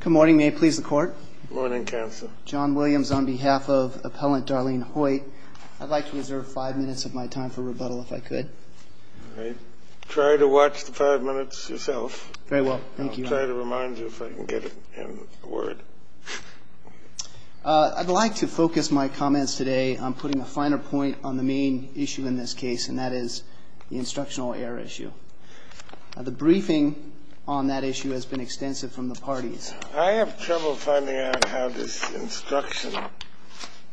Good morning. May it please the Court? Good morning, Counsel. John Williams on behalf of Appellant Darlene Hoyt. I'd like to reserve five minutes of my time for rebuttal if I could. All right. Try to watch the five minutes yourself. Very well. Thank you. I'll try to remind you if I can get a word. I'd like to focus my comments today on putting a finer point on the main issue in this case, and that is the instructional error issue. The briefing on that issue has been extensive from the parties. I have trouble finding out how this instruction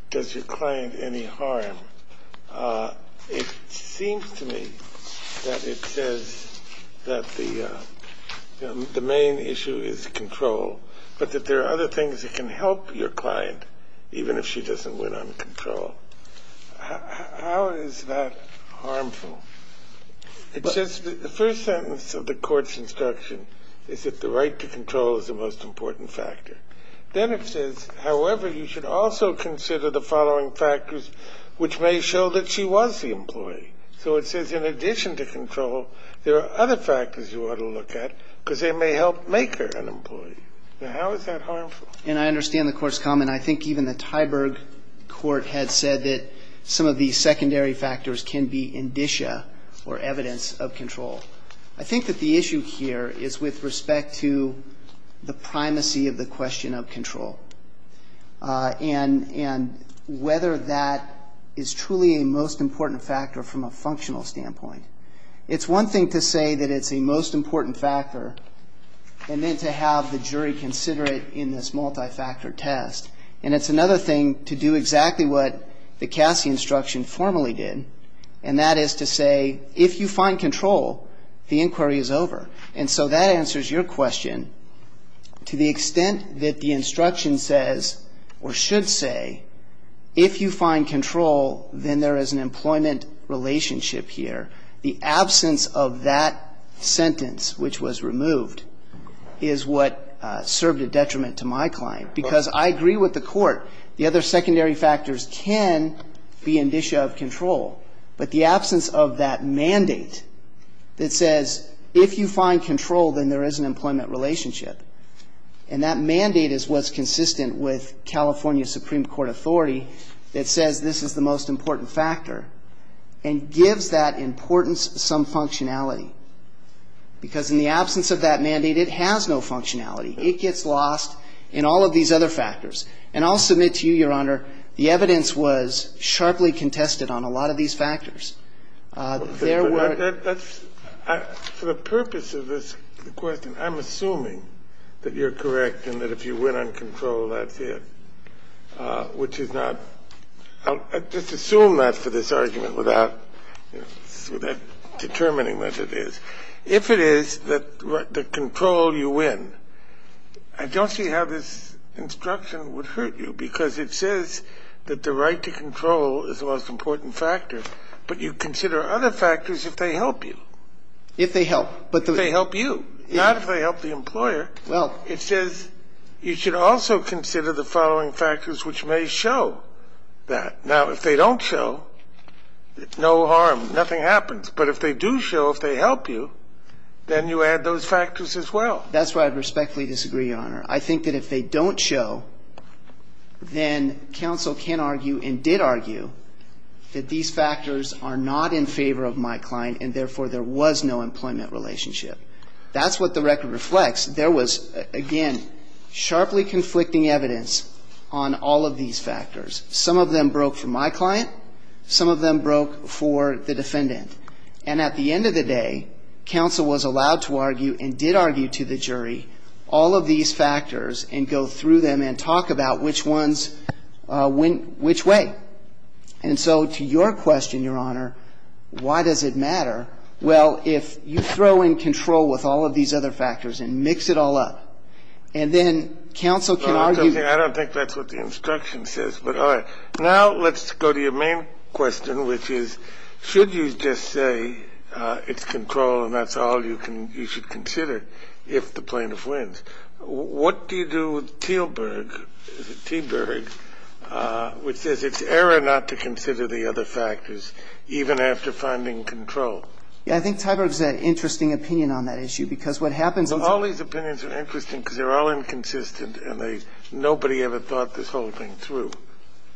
does your client any harm. It seems to me that it says that the main issue is control, but that there are other things that can help your client even if she doesn't win on control. How is that harmful? It says the first sentence of the court's instruction is that the right to control is the most important factor. Then it says, however, you should also consider the following factors which may show that she was the employee. So it says in addition to control, there are other factors you ought to look at because they may help make her an employee. Now, how is that harmful? And I understand the Court's comment. And I think even the Tyberg Court had said that some of the secondary factors can be indicia or evidence of control. I think that the issue here is with respect to the primacy of the question of control and whether that is truly a most important factor from a functional standpoint. It's one thing to say that it's a most important factor and then to have the jury consider it in this multi-factor test. And it's another thing to do exactly what the Cassie instruction formally did, and that is to say if you find control, the inquiry is over. And so that answers your question. To the extent that the instruction says or should say if you find control, then there is an employment relationship here. The absence of that sentence, which was removed, is what served a detriment to my client. Because I agree with the Court. The other secondary factors can be indicia of control. But the absence of that mandate that says if you find control, then there is an employment relationship. And that mandate is what's consistent with California Supreme Court authority that says this is the most important factor and gives that importance some functionality. Because in the absence of that mandate, it has no functionality. It gets lost in all of these other factors. And I'll submit to you, Your Honor, the evidence was sharply contested on a lot of these factors. There were ---- Kennedy, for the purpose of this question, I'm assuming that you're correct and that if you win on control, that's it, which is not ---- Well, I just assume that for this argument without determining what it is. If it is that the control you win, I don't see how this instruction would hurt you, because it says that the right to control is the most important factor. But you consider other factors if they help you. If they help. If they help you, not if they help the employer. Well ---- It says you should also consider the following factors which may show that. Now, if they don't show, no harm, nothing happens. But if they do show, if they help you, then you add those factors as well. That's why I respectfully disagree, Your Honor. I think that if they don't show, then counsel can argue and did argue that these factors are not in favor of my client and, therefore, there was no employment relationship. That's what the record reflects. There was, again, sharply conflicting evidence on all of these factors. Some of them broke for my client. Some of them broke for the defendant. And at the end of the day, counsel was allowed to argue and did argue to the jury all of these factors and go through them and talk about which ones went which way. And so to your question, Your Honor, why does it matter? Well, if you throw in control with all of these other factors and mix it all up, and then counsel can argue ---- I don't think that's what the instruction says. But, all right. Now let's go to your main question, which is should you just say it's control and that's all you can you should consider if the plaintiff wins. What do you do with Teelburg, is it Teelburg, which says it's error not to consider the other factors even after finding control? Yeah. I think Teelburg has an interesting opinion on that issue because what happens is ---- Well, all these opinions are interesting because they're all inconsistent and they ---- nobody ever thought this whole thing through.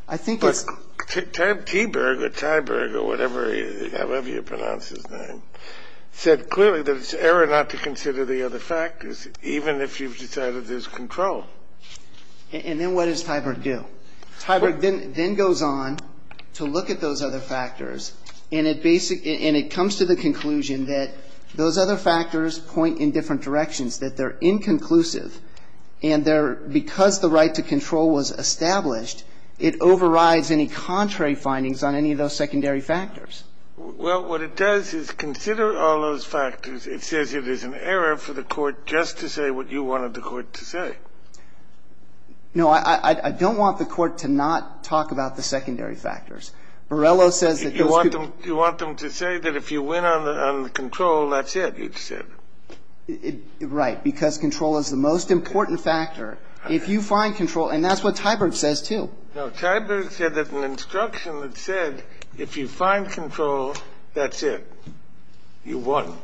I think it's ---- But Teelburg or Teiburg or whatever, however you pronounce his name, said clearly that it's error not to consider the other factors even if you've decided there's control. And then what does Teilburg do? Teilburg then goes on to look at those other factors and it basic ---- and it comes to the conclusion that those other factors point in different directions, that they're inconclusive and they're ---- because the right to control was established, it overrides any contrary findings on any of those secondary factors. Well, what it does is consider all those factors. It says it is an error for the Court just to say what you wanted the Court to say. No, I don't want the Court to not talk about the secondary factors. Borrello says that those ---- You want them to say that if you win on the control, that's it, you said. Right. Because control is the most important factor. If you find control ---- and that's what Teilburg says, too. No. Teilburg said that an instruction that said if you find control, that's it, you won.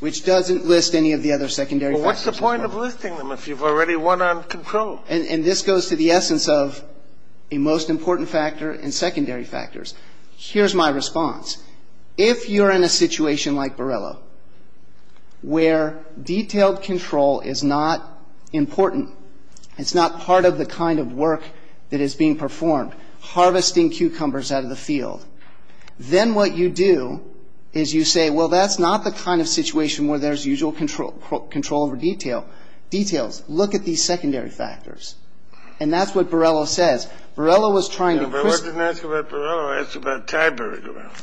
Which doesn't list any of the other secondary factors. Well, what's the point of listing them if you've already won on control? And this goes to the essence of a most important factor and secondary factors. Here's my response. If you're in a situation like Borrello where detailed control is not important, it's not part of the kind of work that is being performed, harvesting cucumbers out of the field, then what you do is you say, well, that's not the kind of situation where there's usual control over detail. Details. Look at these secondary factors. And that's what Borrello says. Borrello was trying to ---- If I wasn't asking about Borrello, I was asking about Teilburg.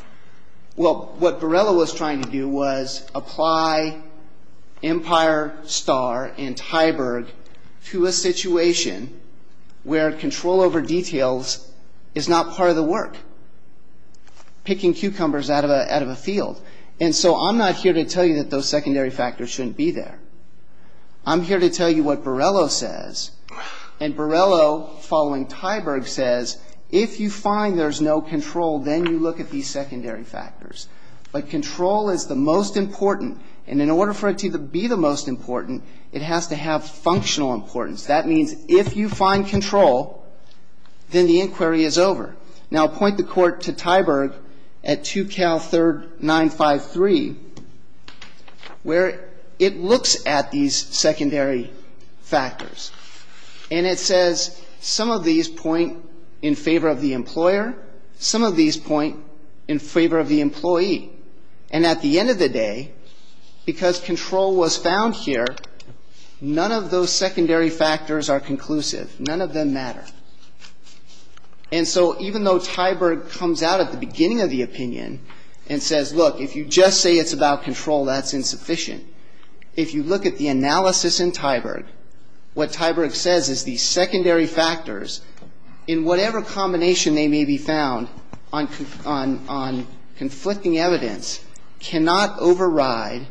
Well, what Borrello was trying to do was apply Empire, Starr, and Teilburg to a situation where control over details is not part of the work, picking cucumbers out of a field. And so I'm not here to tell you that those secondary factors shouldn't be there. I'm here to tell you what Borrello says. And Borrello, following Teilburg, says if you find there's no control, then you look at these secondary factors. But control is the most important. And in order for it to be the most important, it has to have functional importance. That means if you find control, then the inquiry is over. Now, point the court to Teilburg at 2 Cal 3rd 953, where it looks at these secondary factors. And it says some of these point in favor of the employer, some of these point in favor of the employee. And at the end of the day, because control was found here, none of those secondary factors are conclusive. None of them matter. And so even though Teilburg comes out at the beginning of the opinion and says, look, if you just say it's about control, that's insufficient, if you look at the analysis in Teilburg, what Teilburg says is these secondary factors, in whatever combination they may be found on conflicting evidence, cannot override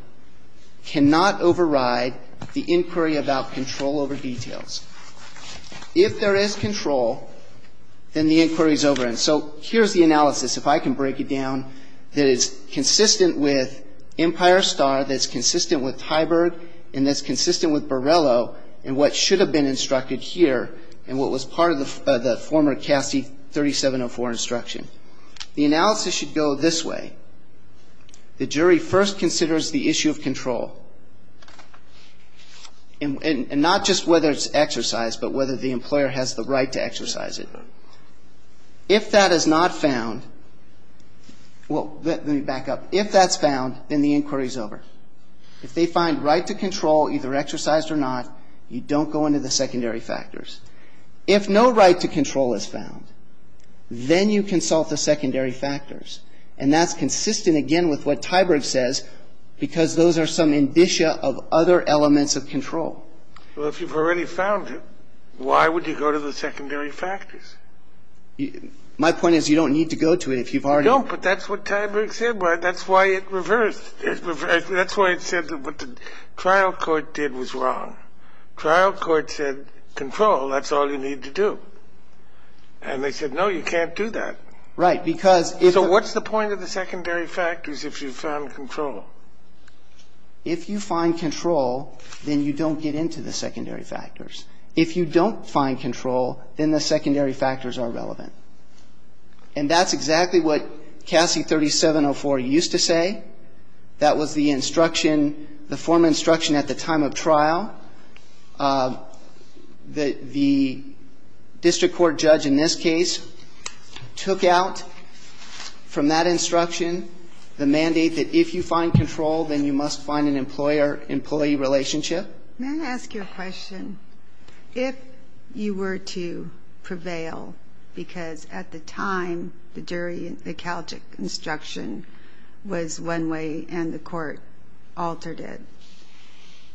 the inquiry about control over details. If there is control, then the inquiry is over. And so here's the analysis, if I can break it down, that is consistent with Empire Star, that's consistent with Teilburg, and that's consistent with Borrello and what should have been instructed here and what was part of the former Cassie 3704 instruction. The analysis should go this way. The jury first considers the issue of control. And not just whether it's exercised, but whether the employer has the right to exercise it. If that is not found, well, let me back up. If that's found, then the inquiry is over. If they find right to control either exercised or not, you don't go into the secondary factors. If no right to control is found, then you consult the secondary factors. And that's consistent, again, with what Teilburg says, because those are some indicia of other elements of control. Well, if you've already found it, why would you go to the secondary factors? My point is you don't need to go to it if you've already found it. You don't, but that's what Teilburg said. That's why it reversed. That's why it said what the trial court did was wrong. Trial court said control, that's all you need to do. And they said, no, you can't do that. Right. So what's the point of the secondary factors if you've found control? If you find control, then you don't get into the secondary factors. If you don't find control, then the secondary factors are relevant. And that's exactly what Cassie 3704 used to say. That was the instruction, the formal instruction at the time of trial that the district court judge in this case took out from that instruction the mandate that if you find control, then you must find an employer-employee relationship. May I ask you a question? If you were to prevail, because at the time the jury, the Calgic instruction, was one way and the court altered it,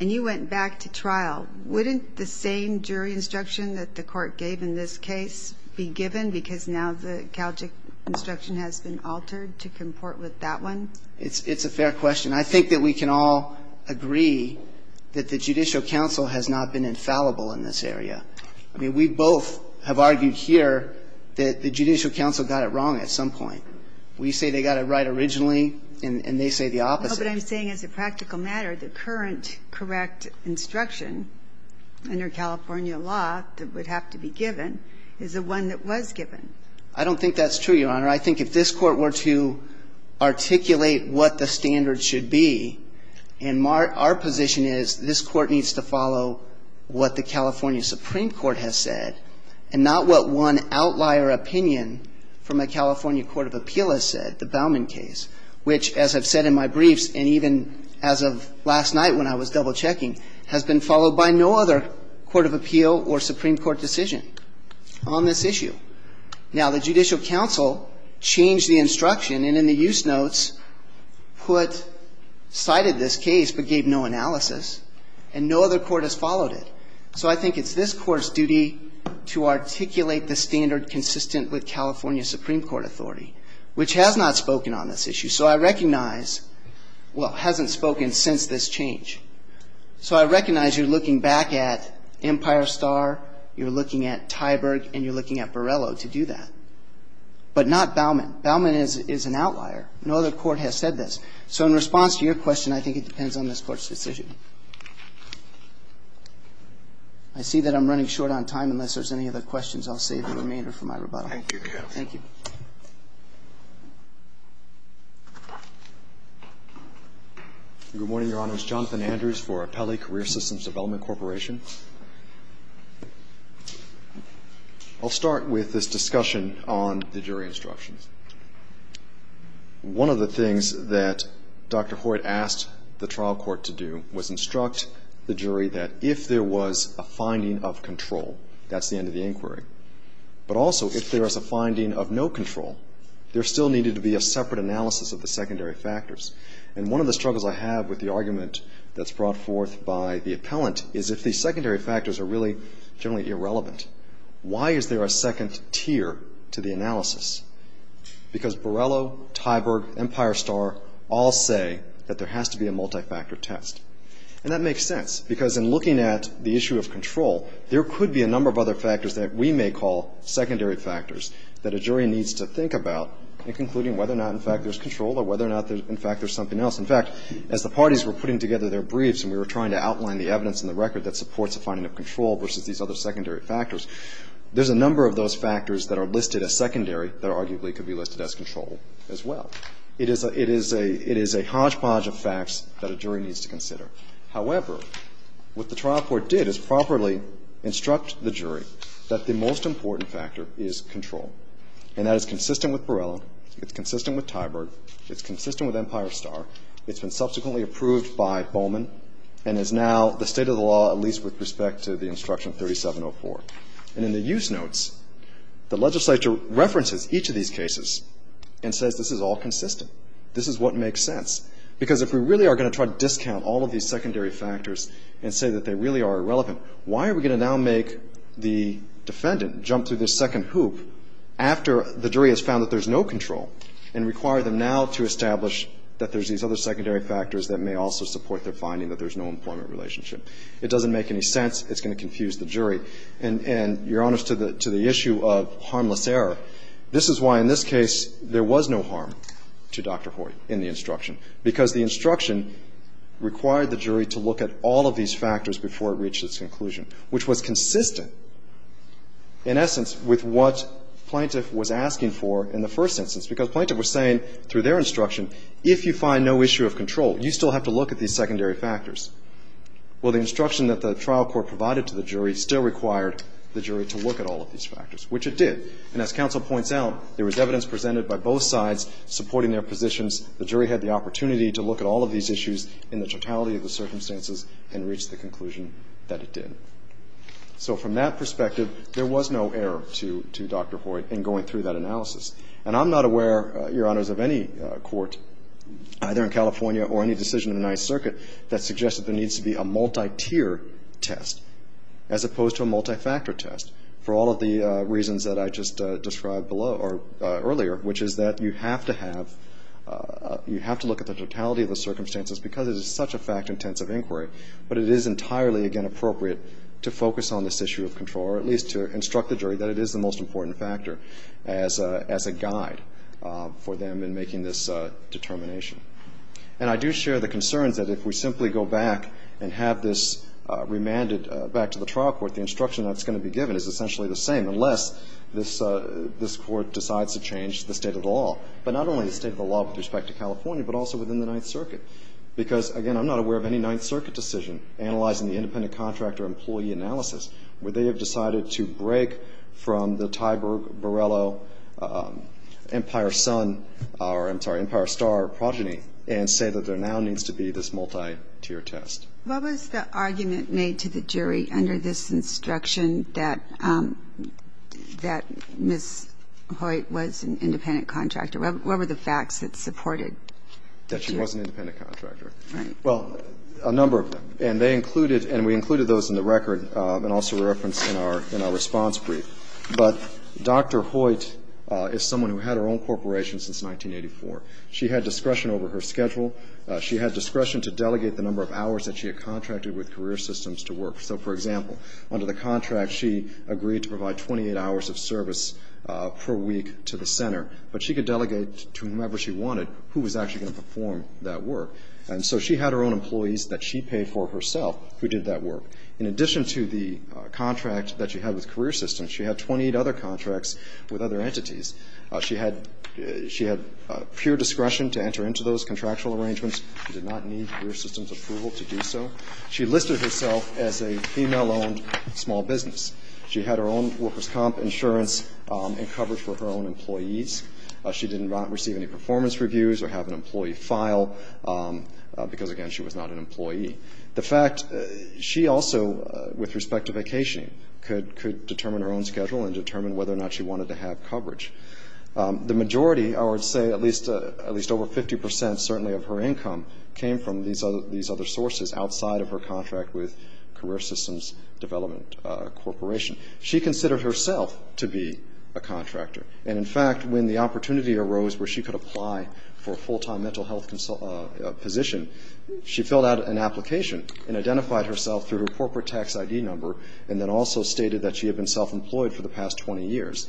and you went back to trial, wouldn't the same jury instruction that the court gave in this case be given, because now the Calgic instruction has been altered to comport with that one? It's a fair question. I think that we can all agree that the judicial counsel has not been infallible in this area. I mean, we both have argued here that the judicial counsel got it wrong at some point. We say they got it right originally, and they say the opposite. No, but I'm saying as a practical matter, the current correct instruction under California law that would have to be given is the one that was given. I don't think that's true, Your Honor. I think if this Court were to articulate what the standards should be, and our position is this Court needs to follow what the California Supreme Court has said and not what one outlier opinion from a California court of appeal has said, the Bauman case, which, as I've said in my briefs and even as of last night when I was double-checking, has been followed by no other court of appeal or Supreme Court decision on this issue. Now, the judicial counsel changed the instruction, and in the use notes cited this case but gave no analysis, and no other court has followed it. So I think it's this Court's duty to articulate the standard consistent with California Supreme Court authority, which has not spoken on this issue. So I recognize – well, hasn't spoken since this change. So I recognize you're looking back at Empire Star, you're looking at Tyberg, and you're looking at Borrello to do that. But not Bauman. Bauman is an outlier. No other court has said this. So in response to your question, I think it depends on this Court's decision. I see that I'm running short on time. Unless there's any other questions, I'll save the remainder for my rebuttal. Thank you, counsel. Thank you. Good morning, Your Honors. Jonathan Andrews for Apelli Career Systems Development Corporation. I'll start with this discussion on the jury instructions. One of the things that Dr. Hoyt asked the trial court to do was instruct the jury that if there was a finding of control, that's the end of the inquiry. But also, if there is a finding of no control, there still needed to be a separate analysis of the secondary factors. And one of the struggles I have with the argument that's brought forth by the appellant is if the secondary factors are really generally irrelevant, why is there a second tier to the analysis? Because Borrello, Tyberg, Empire Star all say that there has to be a multifactor test. And that makes sense, because in looking at the issue of control, there could be a number of other factors that we may call secondary factors that a jury needs to think about in concluding whether or not, in fact, there's control or whether or not, in fact, there's something else. In fact, as the parties were putting together their briefs and we were trying to outline the evidence in the record that supports the finding of control versus these other secondary factors, there's a number of those factors that are listed as secondary that arguably could be listed as control as well. However, what the trial court did is properly instruct the jury that the most important factor is control. And that is consistent with Borrello. It's consistent with Tyberg. It's consistent with Empire Star. It's been subsequently approved by Bowman and is now the state of the law, at least with respect to the Instruction 3704. And in the use notes, the legislature references each of these cases and says, this is all consistent. This is what makes sense. Because if we really are going to try to discount all of these secondary factors and say that they really are irrelevant, why are we going to now make the defendant jump through this second hoop after the jury has found that there's no control and require them now to establish that there's these other secondary factors that may also support their finding that there's no employment relationship? It doesn't make any sense. It's going to confuse the jury. And, Your Honors, to the issue of harmless error, this is why in this case there was no harm to Dr. Hoy in the instruction. Because the instruction required the jury to look at all of these factors before it reached its conclusion, which was consistent, in essence, with what the plaintiff was asking for in the first instance. Because the plaintiff was saying through their instruction, if you find no issue of control, you still have to look at these secondary factors. Well, the instruction that the trial court provided to the jury still required the jury to look at all of these factors, which it did. And as counsel points out, there was evidence presented by both sides supporting their positions. The jury had the opportunity to look at all of these issues in the totality of the circumstances and reach the conclusion that it did. So from that perspective, there was no error to Dr. Hoy in going through that analysis. And I'm not aware, Your Honors, of any court, either in California or any decision in the Ninth Circuit, that suggested there needs to be a multi-tier test as opposed to a multi-factor test for all of the reasons that I just described earlier, which is that you have to have, you have to look at the totality of the circumstances because it is such a fact-intensive inquiry. But it is entirely, again, appropriate to focus on this issue of control, or at least to instruct the jury that it is the most important factor as a guide for them in making this determination. And I do share the concerns that if we simply go back and have this remanded back to the trial court, the instruction that's going to be given is essentially the same, unless this Court decides to change the state of the law. But not only the state of the law with respect to California, but also within the Ninth Circuit. Because, again, I'm not aware of any Ninth Circuit decision analyzing the independent contractor-employee analysis where they have decided to break from the Ty Borello Empire Sun, or I'm sorry, Empire Star progeny, and say that there now needs to be this multi-tier test. What was the argument made to the jury under this instruction that Ms. Hoyt was an independent contractor? What were the facts that supported the jury? That she was an independent contractor. Right. Well, a number of them. And they included, and we included those in the record and also referenced in our response brief. But Dr. Hoyt is someone who had her own corporation since 1984. She had discretion over her schedule. She had discretion to delegate the number of hours that she had contracted with career systems to work. So, for example, under the contract, she agreed to provide 28 hours of service per week to the center. But she could delegate to whomever she wanted who was actually going to perform that work. And so she had her own employees that she paid for herself who did that work. In addition to the contract that she had with career systems, she had 28 other contracts with other entities. She had pure discretion to enter into those contractual arrangements. She did not need career systems' approval to do so. She listed herself as a female-owned small business. She had her own workers' comp insurance and coverage for her own employees. She did not receive any performance reviews or have an employee file because, again, she was not an employee. The fact, she also, with respect to vacationing, could determine her own schedule and determine whether or not she wanted to have coverage. The majority, I would say at least over 50 percent certainly of her income, came from these other sources outside of her contract with career systems development corporation. She considered herself to be a contractor. And, in fact, when the opportunity arose where she could apply for a full-time mental health position, she filled out an application and identified herself through her corporate tax ID number and then also stated that she had been self-employed for the past 20 years.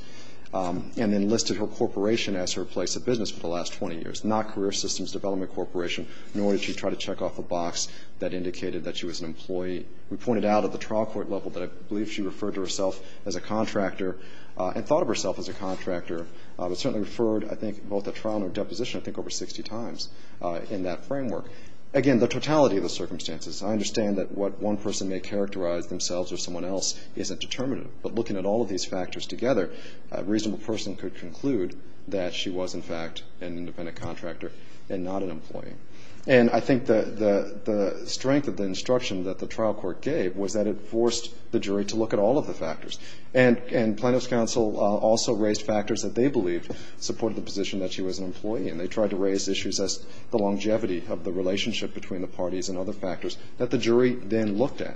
And then listed her corporation as her place of business for the last 20 years, not career systems development corporation, nor did she try to check off a box that indicated that she was an employee. We pointed out at the trial court level that I believe she referred to herself as a contractor and thought of herself as a contractor, but certainly referred, I think, both at trial and at deposition, I think over 60 times in that framework. Again, the totality of the circumstances. I understand that what one person may characterize themselves as someone else isn't determinative, but looking at all of these factors together, a reasonable person could conclude that she was, in fact, an independent contractor and not an employee. And I think the strength of the instruction that the trial court gave was that it forced the jury to look at all of the factors. And plaintiff's counsel also raised factors that they believed supported the position that she was an employee, and they tried to raise issues as the longevity of the relationship between the parties and other factors that the jury then looked at.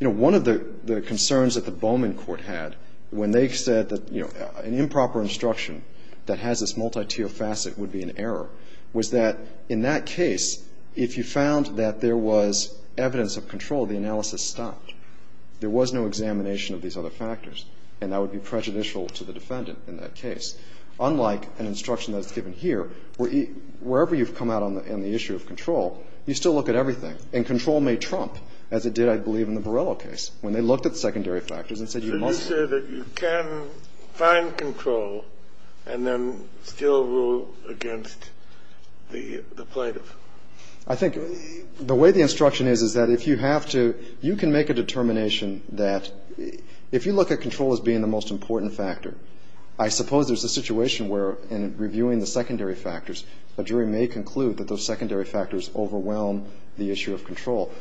You know, one of the concerns that the Bowman court had when they said that, you know, an improper instruction that has this multi-tier facet would be an error was that in that case, if you found that there was evidence of control, the analysis stopped. There was no examination of these other factors, and that would be prejudicial to the defendant in that case. Unlike an instruction that's given here, wherever you've come out on the issue of control, you still look at everything. And control may trump, as it did, I believe, in the Borrello case, when they looked at the secondary factors and said you must. So you say that you can find control and then still rule against the plaintiff? I think the way the instruction is is that if you have to you can make a determination that if you look at control as being the most important factor, I suppose there's a situation where in reviewing the secondary factors, a jury may conclude that those secondary factors overwhelm the issue of control.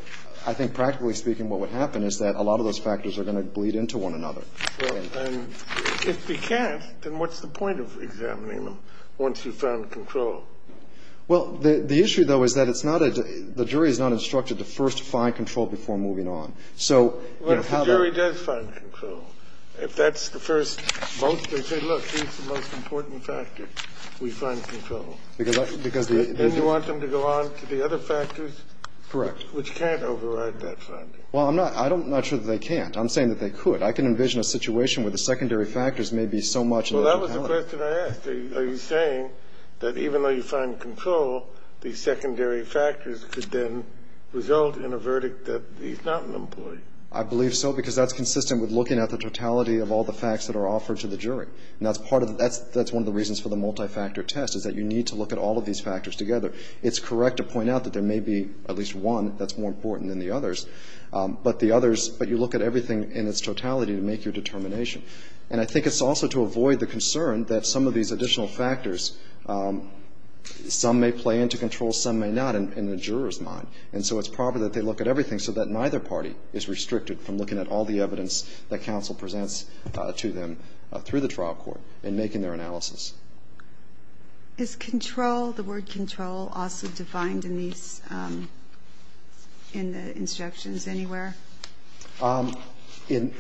I think, practically speaking, what would happen is that a lot of those factors are going to bleed into one another. Kennedy. Well, if they can't, then what's the point of examining them once you've found control? Well, the issue, though, is that it's not a – the jury is not instructed to first find control before moving on. So you have to have a – But if the jury does find control, if that's the first most – they say, look, if that's the most important factor, we find control. Because the – Then you want them to go on to the other factors? Correct. Which can't override that finding. Well, I'm not – I'm not sure that they can't. I'm saying that they could. I can envision a situation where the secondary factors may be so much – Well, that was the question I asked. Are you saying that even though you find control, the secondary factors could then result in a verdict that he's not an employee? that are offered to the jury. And that's part of – that's one of the reasons for the multifactor test, is that you need to look at all of these factors together. It's correct to point out that there may be at least one that's more important than the others. But the others – but you look at everything in its totality to make your determination. And I think it's also to avoid the concern that some of these additional factors – some may play into control, some may not in the juror's mind. And so it's proper that they look at everything so that neither party is restricted from looking at all the evidence that counsel presents to them through the trial court in making their analysis. Is control – the word control also defined in these – in the instructions anywhere? It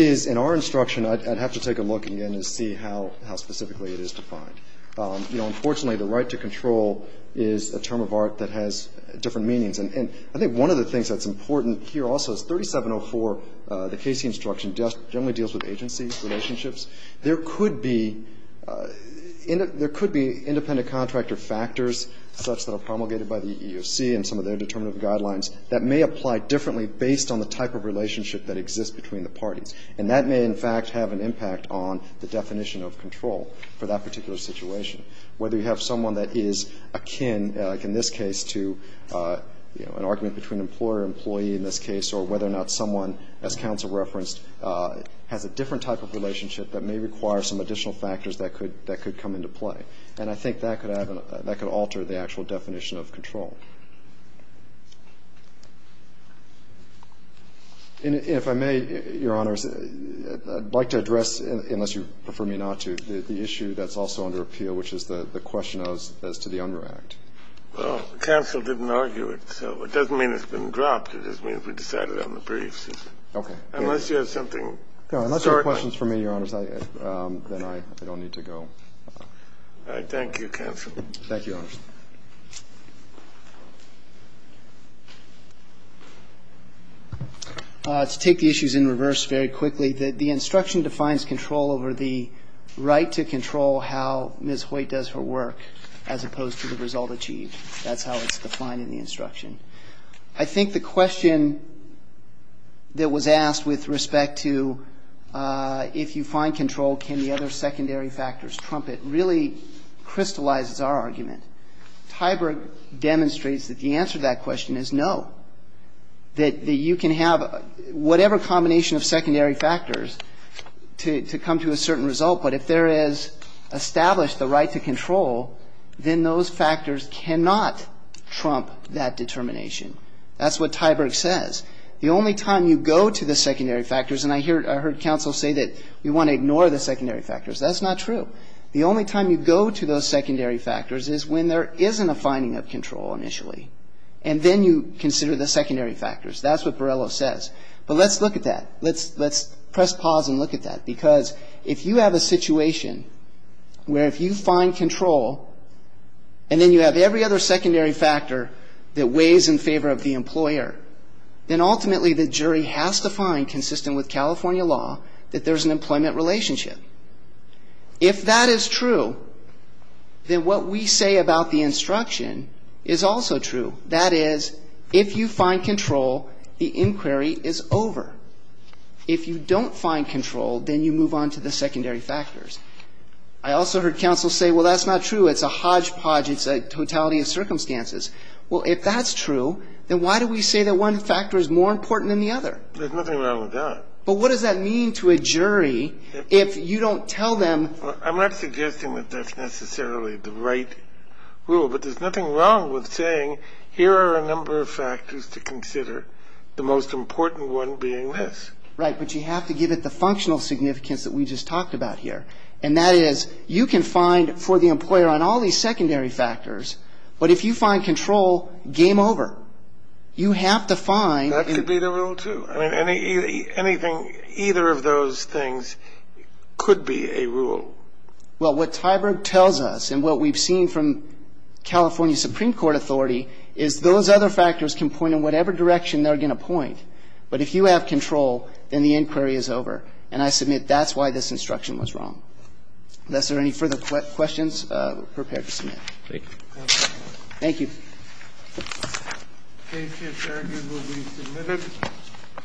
is. In our instruction, I'd have to take a look again and see how specifically it is defined. Unfortunately, the right to control is a term of art that has different meanings. And I think one of the things that's important here also is 3704, the Casey instruction, generally deals with agency relationships. There could be independent contractor factors such that are promulgated by the EEOC and some of their determinative guidelines that may apply differently based on the type of relationship that exists between the parties. And that may, in fact, have an impact on the definition of control for that particular situation, whether you have someone that is akin, like in this case, to an argument between employer and employee in this case, or whether or not someone, as counsel referenced, has a different type of relationship that may require some additional factors that could come into play. And I think that could alter the actual definition of control. And if I may, Your Honors, I'd like to address, unless you prefer me not to, the issue that's also under appeal, which is the question as to the UNRRA Act. Well, counsel didn't argue it, so it doesn't mean it's been dropped. It just means we decided on the briefs. Okay. Unless you have something short. Unless you have questions for me, Your Honors, then I don't need to go. Thank you, counsel. Thank you, Your Honors. To take the issues in reverse very quickly, the instruction defines control over the right to control how Ms. Hoyt does her work, as opposed to the result achieved. That's how it's defined in the instruction. I think the question that was asked with respect to if you find control, can the other secondary factors trump it, really crystallizes our argument. Tyberg demonstrates that the answer to that question is no, that you can have whatever combination of secondary factors to come to a certain result, but if there is established the right to control, then those factors cannot trump that determination. That's what Tyberg says. The only time you go to the secondary factors, and I heard counsel say that we want to ignore the secondary factors. That's not true. The only time you go to those secondary factors is when there isn't a finding of control initially, and then you consider the secondary factors. That's what Borrello says. But let's look at that. Let's press pause and look at that, because if you have a situation where if you find control, and then you have every other secondary factor that weighs in favor of the employer, then ultimately the jury has to find, consistent with California law, that there's an employment relationship. If that is true, then what we say about the instruction is also true. That is, if you find control, the inquiry is over. If you don't find control, then you move on to the secondary factors. I also heard counsel say, well, that's not true. It's a hodgepodge. It's a totality of circumstances. Well, if that's true, then why do we say that one factor is more important than the other? There's nothing wrong with that. But what does that mean to a jury if you don't tell them? I'm not suggesting that that's necessarily the right rule, but there's nothing wrong with saying here are a number of factors to consider, the most important one being this. Right. But you have to give it the functional significance that we just talked about here, and that is you can find for the employer on all these secondary factors, but if you find control, game over. You have to find. That could be the rule, too. I mean, anything, either of those things could be a rule. Well, what Tyberg tells us and what we've seen from California Supreme Court authority is those other factors can point in whatever direction they're going to point. But if you have control, then the inquiry is over. And I submit that's why this instruction was wrong. Unless there are any further questions, we're prepared to submit. Thank you. Thank you. Thank you.